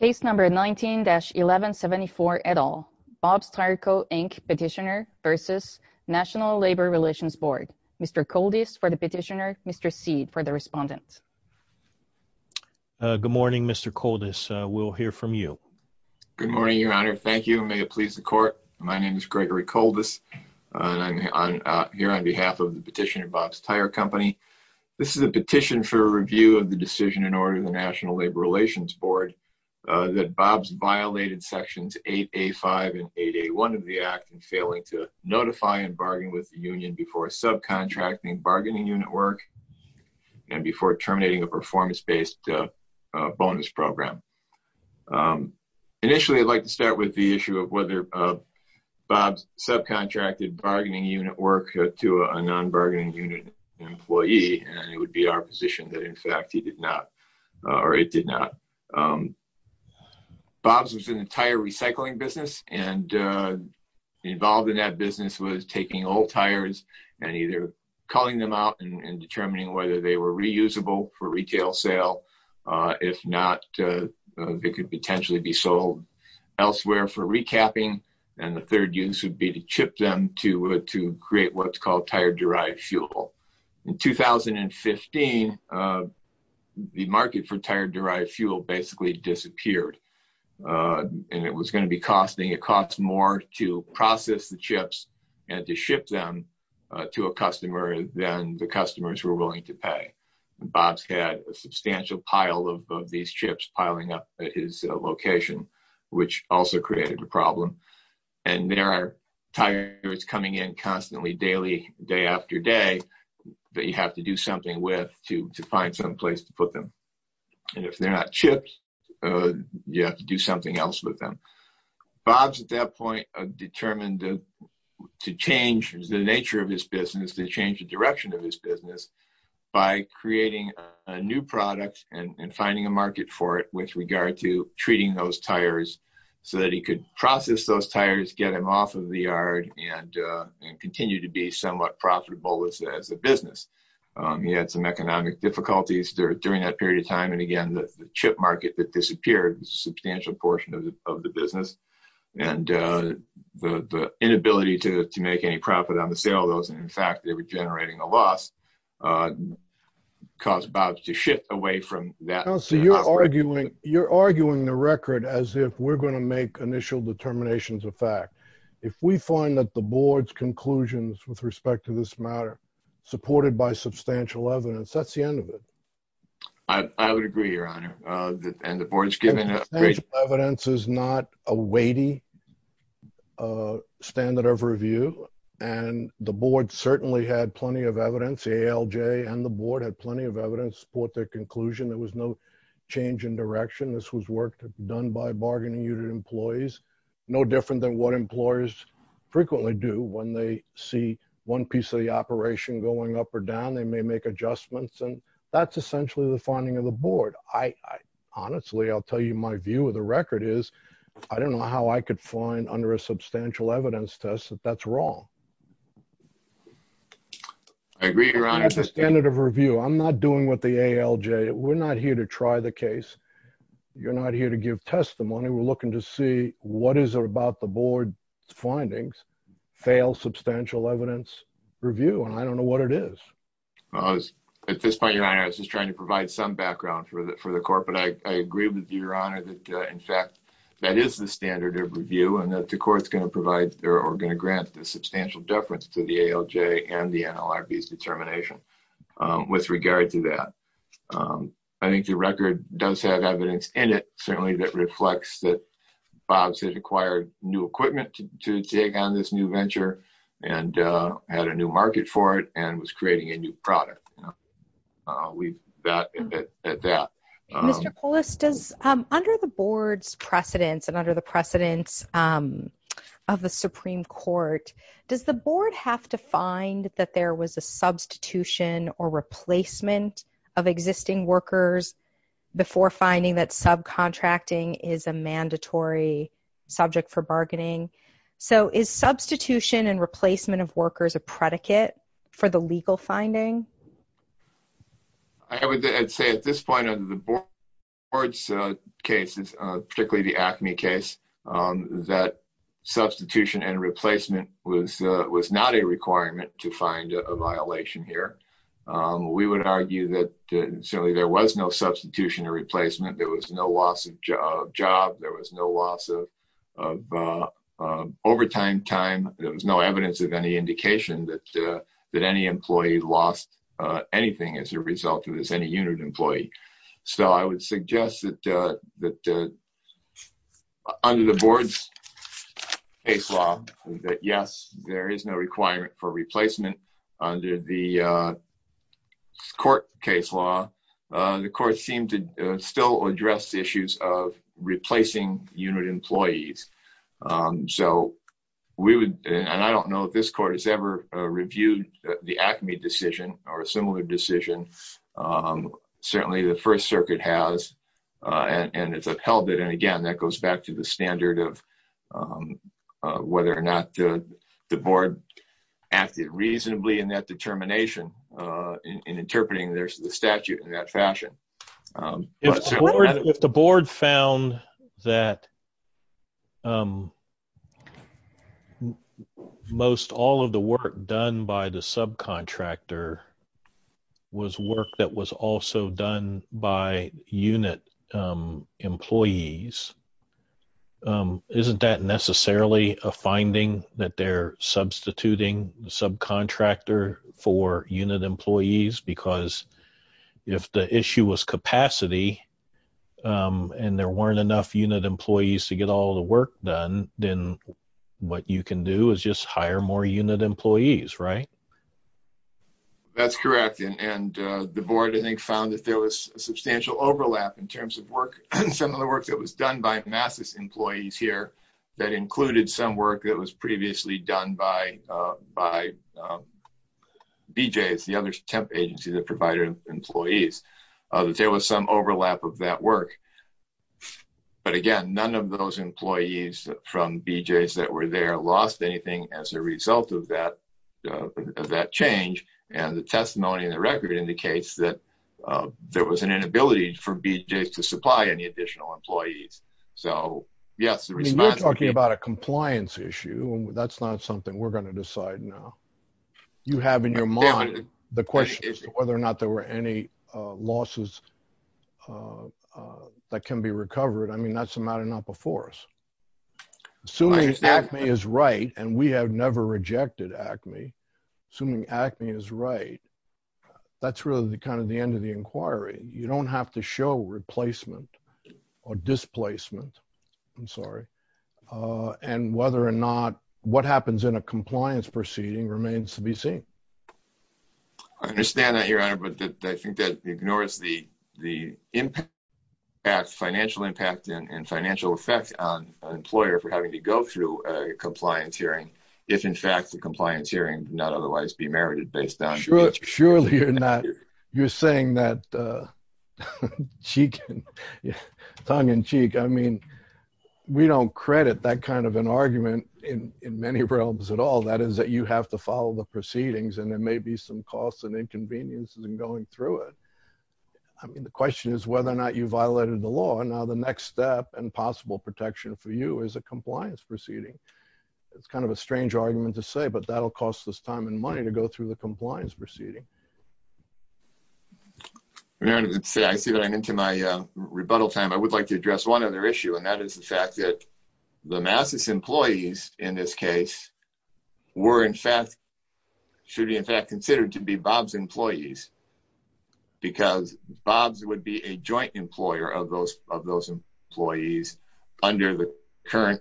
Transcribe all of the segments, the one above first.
Case number 19-1174, et al. Bob's Tire Co., Inc. Petitioner v. National Labor Relations Board. Mr. Koldis for the petitioner, Mr. Seed for the respondent. Good morning, Mr. Koldis. We'll hear from you. Good morning, Your Honor. Thank you. May it please the Court. My name is Gregory Koldis. I'm here on behalf of the petitioner, Bob's Tire Company. This is a petition for review of the decision in order of the National Labor Relations Board that Bob's violated Sections 8A-5 and 8A-1 of the Act in failing to notify and bargain with the union before subcontracting bargaining unit work and before terminating a performance-based bonus program. Initially, I'd like to start with the issue of whether Bob's subcontracted bargaining unit work to a non-bargaining unit employee, and it would be our position that, in fact, he did not, or it did not. Bob's was an entire recycling business, and involved in that business was taking old tires and either calling them out and determining whether they were reusable for retail sale. If not, they could potentially be sold elsewhere for recapping. And the third use would be to chip them to create what's called tire-derived fuel. In 2015, the market for tire-derived fuel basically disappeared, and it was going to be costing – it cost more to process the chips and to ship them to a customer than the customers were willing to pay. Bob's had a substantial pile of these chips piling up at his location, which also created a problem. And there are tires coming in constantly, daily, day after day, that you have to do something with to find some place to put them. And if they're not chipped, you have to do something else with them. Bob's at that point determined to change the nature of his business, to change the direction of his business, by creating a new product and finding a market for it with regard to treating those tires so that he could process those tires, get them off of the yard, and continue to be somewhat profitable as a business. He had some economic difficulties during that period of time, and again, the chip market that disappeared a substantial portion of the business. And the inability to make any profit on the sale of those, and in fact, they were generating a loss, caused Bob to shift away from that. You're arguing the record as if we're going to make initial determinations of fact. If we find that the board's conclusions with respect to this matter, supported by substantial evidence, that's the end of it. I would agree, Your Honor. And the board's given a great... This was work done by bargaining unit employees. No different than what employers frequently do when they see one piece of the operation going up or down. They may make adjustments, and that's essentially the finding of the board. Honestly, I'll tell you my view of the record is, I don't know how I could find under a substantial evidence test that that's wrong. I agree, Your Honor. That's the standard of review. I'm not doing what the ALJ... We're not here to try the case. You're not here to give testimony. We're looking to see what is it about the board's findings, fail substantial evidence review, and I don't know what it is. At this point, Your Honor, I was just trying to provide some background for the court, but I agree with you, Your Honor, that, in fact, that is the standard of review, and that the court's going to provide or going to grant a substantial deference to the ALJ and the NLRB's determination with regard to that. I think the record does have evidence in it, certainly, that reflects that Bob's has acquired new equipment to take on this new venture and had a new market for it and was creating a new product. Mr. Polis, under the board's precedence and under the precedence of the Supreme Court, does the board have to find that there was a substitution or replacement of existing workers before finding that subcontracting is a mandatory subject for bargaining? So is substitution and replacement of workers a predicate for the legal finding? I would say at this point, under the board's cases, particularly the ACME case, that substitution and replacement was not a requirement to find a violation here. We would argue that certainly there was no substitution or replacement. There was no loss of job. There was no loss of overtime time. There was no evidence of any indication that any employee lost anything as a result of this, any unit employee. So I would suggest that under the board's case law, that yes, there is no requirement for replacement. Under the court case law, the court seemed to still address issues of replacing unit employees. And I don't know if this court has ever reviewed the ACME decision or a similar decision. Certainly the First Circuit has, and it's upheld it. And again, that goes back to the standard of whether or not the board acted reasonably in that determination in interpreting the statute in that fashion. If the board found that most all of the work done by the subcontractor was work that was also done by unit employees, isn't that necessarily a finding that they're substituting the subcontractor for unit employees? Because if the issue was capacity and there weren't enough unit employees to get all the work done, then what you can do is just hire more unit employees, right? That's correct. And the board, I think, found that there was substantial overlap in terms of work, some of the work that was done by MASIS employees here that included some work that was previously done by BJ's, the other temp agency that provided employees. There was some overlap of that work. But again, none of those employees from BJ's that were there lost anything as a result of that change. And the testimony in the record indicates that there was an inability for BJ's to supply any additional employees. So, yes. You're talking about a compliance issue. That's not something we're going to decide now. You have in your mind the question as to whether or not there were any losses that can be recovered. I mean, that's a matter not before us. Assuming ACME is right, and we have never rejected ACME, assuming ACME is right, that's really kind of the end of the inquiry. You don't have to show replacement or displacement. I'm sorry. And whether or not what happens in a compliance proceeding remains to be seen. I understand that, Your Honor, but I think that ignores the impact, financial impact and financial effect on an employer for having to go through a compliance hearing if, in fact, the compliance hearing did not otherwise be merited based on... Surely you're not. You're saying that tongue in cheek. I mean, we don't credit that kind of an argument in many realms at all. That is that you have to follow the proceedings and there may be some costs and inconveniences in going through it. I mean, the question is whether or not you violated the law. Now, the next step and possible protection for you is a compliance proceeding. It's kind of a strange argument to say, but that'll cost us time and money to go through the compliance proceeding. I see that I'm into my rebuttal time. I would like to address one other issue, and that is the fact that the MASIS employees in this case were, in fact, should be, in fact, considered to be Bob's employees because Bob's would be a joint employer of those employees under the current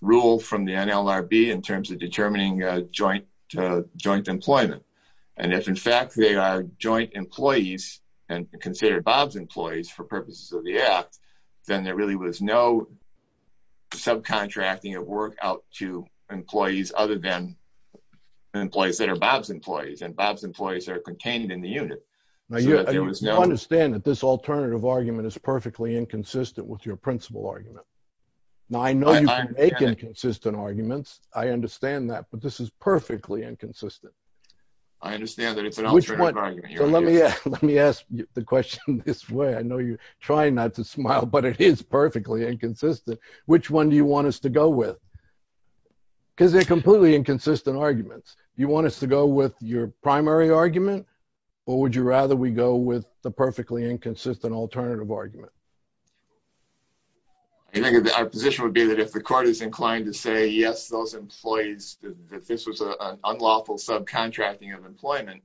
rule from the NLRB in terms of determining joint employment. And if, in fact, they are joint employees and considered Bob's employees for purposes of the act, then there really was no subcontracting of work out to employees other than employees that are Bob's employees, and Bob's employees are contained in the unit. Now, you understand that this alternative argument is perfectly inconsistent with your principal argument. Now, I know you can make inconsistent arguments. I understand that. But this is perfectly inconsistent. I understand that it's an alternative argument. Let me ask the question this way. I know you're trying not to smile, but it is perfectly inconsistent. Which one do you want us to go with? Because they're completely inconsistent arguments. You want us to go with your primary argument, or would you rather we go with the perfectly inconsistent alternative argument? I think our position would be that if the court is inclined to say, yes, those employees, that this was an unlawful subcontracting of employment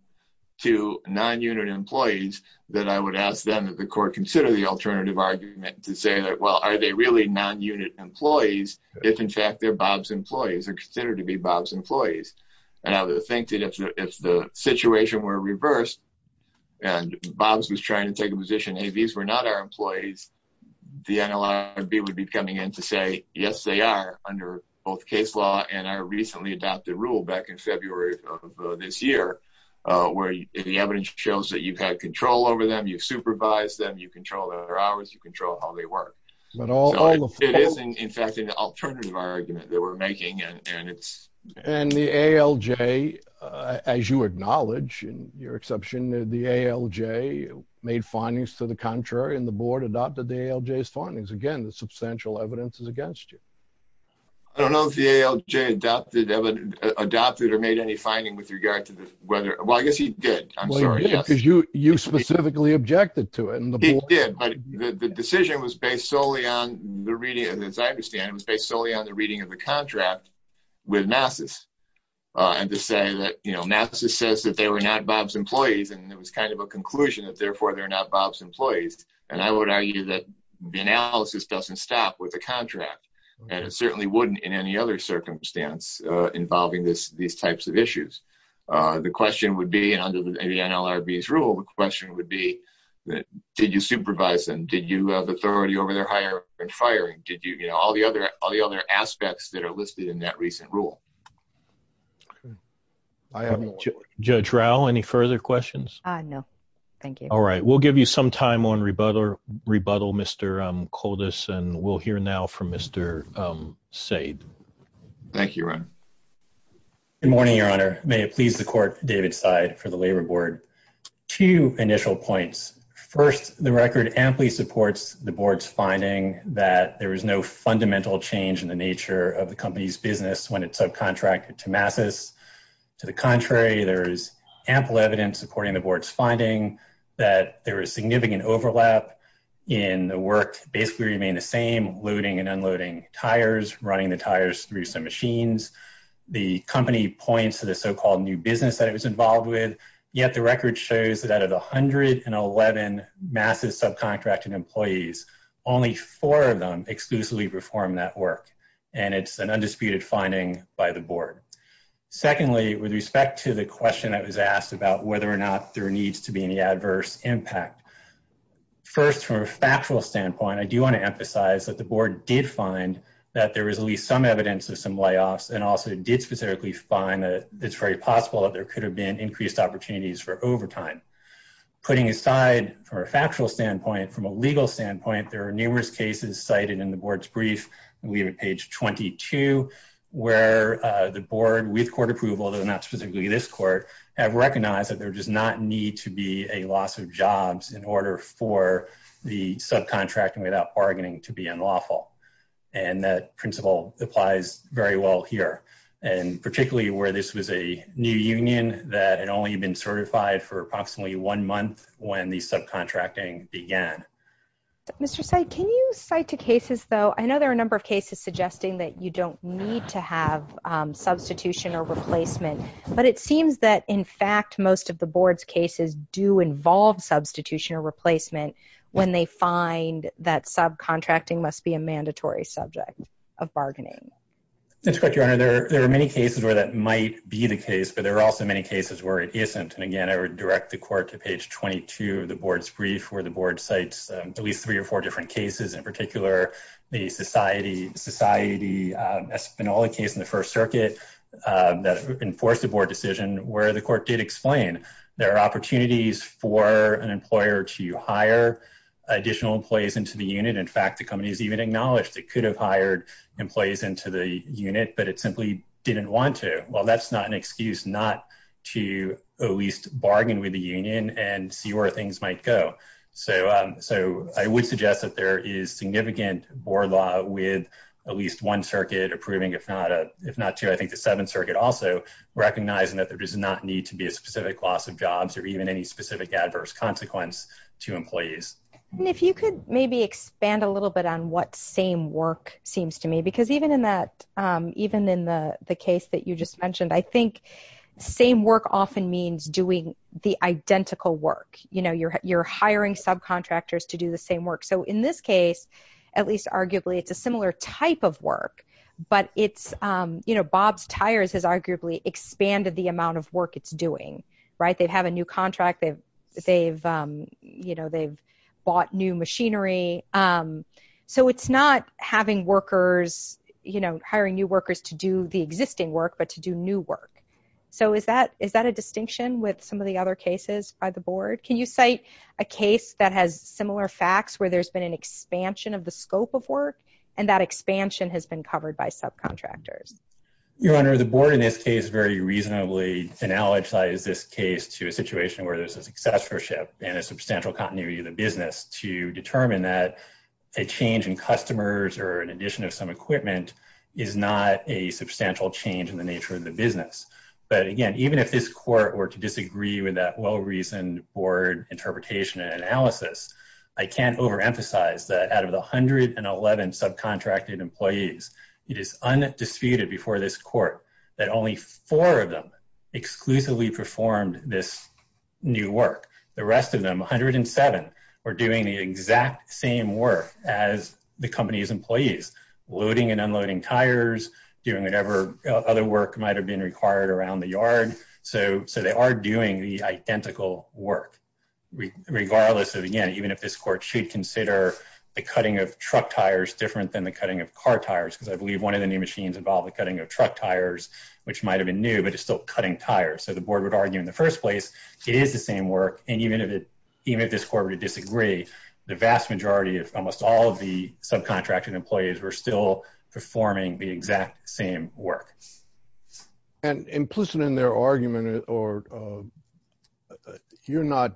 to non-unit employees, that I would ask them that the court consider the alternative argument to say that, well, are they really non-unit employees if, in fact, they're Bob's employees or considered to be Bob's employees? And I would think that if the situation were reversed, and Bob's was trying to take a position, hey, these were not our employees, the NLRB would be coming in to say, yes, they are, under both case law and our recently adopted rule back in February of this year, where the evidence shows that you've had control over them, you've supervised them, you control their hours, you control how they work. But all of those It is, in fact, an alternative argument that we're making, and it's And the ALJ, as you acknowledge, in your exception, the ALJ made findings to the contrary, and the board adopted the ALJ's findings. Again, the substantial evidence is against you. I don't know if the ALJ adopted or made any finding with regard to whether, well, I guess he did. I'm sorry. Well, he did, because you specifically objected to it. He did, but the decision was based solely on the reading, as I understand, it was based solely on the reading of the contract with NASIS. And to say that, you know, NASIS says that they were not Bob's employees, and it was kind of a conclusion that therefore they're not Bob's employees. And I would argue that the analysis doesn't stop with a contract. And it certainly wouldn't in any other circumstance involving these types of issues. The question would be, and under the NLRB's rule, the question would be, did you supervise them? Did you have authority over their hiring and firing? Did you, you know, all the other aspects that are listed in that recent rule? Judge Rowe, any further questions? No, thank you. All right, we'll give you some time on rebuttal, Mr. Koldas, and we'll hear now from Mr. Saad. Thank you, Ron. Good morning, Your Honor. May it please the Court, David Saad for the Labor Board. Two initial points. First, the record amply supports the Board's finding that there was no fundamental change in the nature of the company's business when it subcontracted to NASIS. To the contrary, there is ample evidence, according to the Board's finding, that there was significant overlap in the work basically remained the same, loading and unloading tires, running the tires through some machines. The company points to the so-called new business that it was involved with, yet the record shows that out of the 111 massive subcontracted employees, only four of them exclusively performed that work. And it's an undisputed finding by the Board. Secondly, with respect to the question that was asked about whether or not there needs to be any adverse impact, first, from a factual standpoint, I do want to emphasize that the Board did find that there was at least some evidence of some layoffs, and also did specifically find that it's very possible that there could have been increased opportunities for overtime. Putting aside from a factual standpoint, from a legal standpoint, there are numerous cases cited in the Board's brief, and we have at page 22, where the Board, with court approval, though not specifically this court, have recognized that there does not need to be a loss of jobs in order for the subcontracting without bargaining to be unlawful. And that principle applies very well here, and particularly where this was a new union that had only been certified for approximately one month when the subcontracting began. Mr. Seid, can you cite two cases, though? I know there are a number of cases suggesting that you don't need to have substitution or replacement, but it seems that, in fact, most of the Board's cases do involve substitution or replacement when they find that subcontracting must be a mandatory subject of bargaining. That's correct, Your Honor. There are many cases where that might be the case, but there are also many cases where it isn't. And again, I would direct the Court to page 22 of the Board's brief, where the Board cites at least three or four different cases. In particular, the Society Espinola case in the First Circuit that enforced a Board decision, where the Court did explain there are opportunities for an employer to hire additional employees into the unit. In fact, the company has even acknowledged it could have hired employees into the unit, but it simply didn't want to. Well, that's not an excuse not to at least bargain with the union and see where things might go. So I would suggest that there is significant board law with at least one circuit approving, if not two, I think the Seventh Circuit also recognizing that there does not need to be a specific loss of jobs or even any specific adverse consequence to employees. And if you could maybe expand a little bit on what same work seems to me, because even in the case that you just mentioned, I think same work often means doing the identical work. You're hiring subcontractors to do the same work. So in this case, at least arguably, it's a similar type of work, but Bob's Tires has arguably expanded the amount of work it's doing. They have a new contract, they've bought new machinery. So it's not hiring new workers to do the existing work, but to do new work. So is that a distinction with some of the other cases by the Board? Can you cite a case that has similar facts where there's been an expansion of the scope of work, and that expansion has been covered by subcontractors? Your Honor, the Board in this case very reasonably analogized this case to a situation where there's a successorship and a substantial continuity of the business to determine that a change in customers or an addition of some equipment is not a substantial change in the nature of the business. But again, even if this Court were to disagree with that well-reasoned Board interpretation and analysis, I can't overemphasize that out of the 111 subcontracted employees, it is undisputed before this Court that only four of them exclusively performed this new work. The rest of them, 107, were doing the exact same work as the company's employees, loading and unloading tires, doing whatever other work might have been required around the yard. So they are doing the identical work, regardless of, again, even if this Court should consider the cutting of truck tires different than the cutting of car tires, because I believe one of the new machines involved the cutting of truck tires, which might have been new, but it's still cutting tires. So the Board would argue in the first place it is the same work, and even if this Court were to disagree, the vast majority of almost all of the subcontracted employees were still performing the exact same work. And implicit in their argument, you're not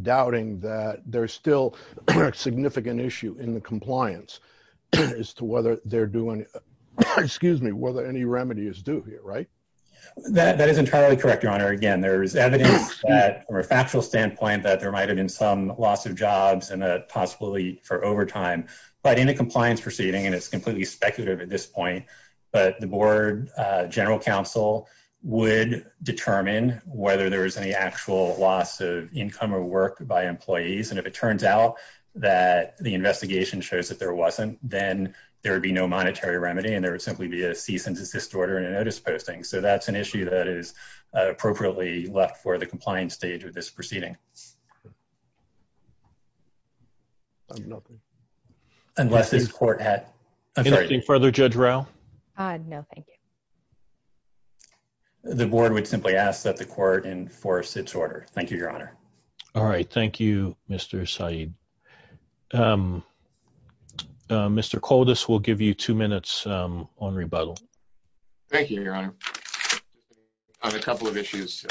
doubting that there's still a significant issue in the compliance as to whether they're doing, excuse me, whether any remedy is due here, right? That is entirely correct, Your Honor. Again, there is evidence that, from a factual standpoint, that there might have been some loss of jobs and possibly for overtime. But in a compliance proceeding, and it's completely speculative at this point, but the Board General Counsel would determine whether there was any actual loss of income or work by employees. And if it turns out that the investigation shows that there wasn't, then there would be no monetary remedy and there would simply be a cease and desist order and a notice posting. So that's an issue that is appropriately left for the compliance stage of this proceeding. Unless this Court had... Anything further, Judge Rowe? No, thank you. The Board would simply ask that the Court enforce its order. Thank you, Your Honor. All right. Thank you, Mr. Saeed. Mr. Koldas, we'll give you two minutes on rebuttal. Thank you, Your Honor. I have a couple of issues.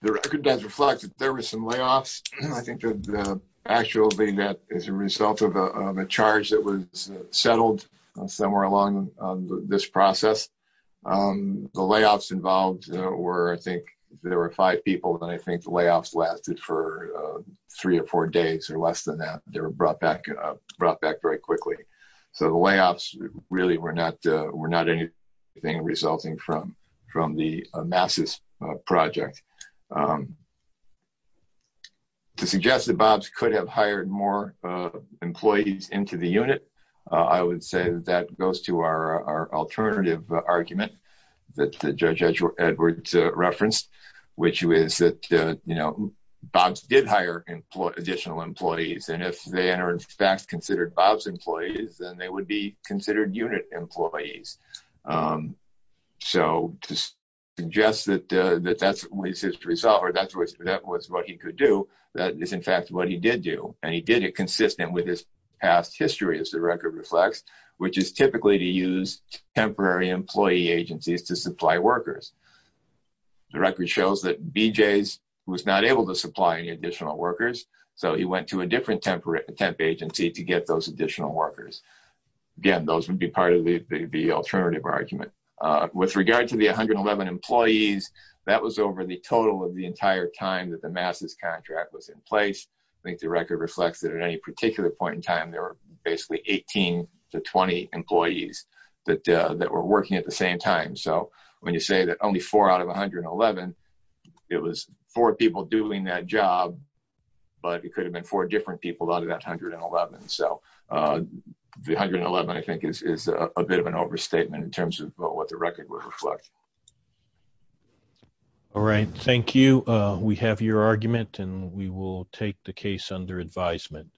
The record does reflect that there were some layoffs. I think that actually that is a result of a charge that was settled somewhere along this process. The layoffs involved were, I think, there were five people, and I think the layoffs lasted for three or four days or less than that. They were brought back very quickly. So the layoffs really were not anything resulting from the MASIS project. To suggest that Bobbs could have hired more employees into the unit, I would say that that goes to our alternative argument that Judge Edwards referenced, which was that, you know, Bobbs did hire additional employees. And if they are in fact considered Bobbs employees, then they would be considered unit employees. So to suggest that that was his result, or that was what he could do, that is in fact what he did do. And he did it consistent with his past history, as the record reflects, which is typically to use temporary employee agencies to supply workers. The record shows that BJs was not able to supply any additional workers, so he went to a different temp agency to get those additional workers. Again, those would be part of the alternative argument. With regard to the 111 employees, that was over the total of the entire time that the MASIS contract was in place. I think the record reflects that at any particular point in time, there were basically 18 to 20 employees that were working at the same time. So when you say that only four out of 111, it was four people doing that job, but it could have been four different people out of that 111. So the 111, I think, is a bit of an overstatement in terms of what the record would reflect. All right. Thank you. We have your argument and we will take the case under advisement.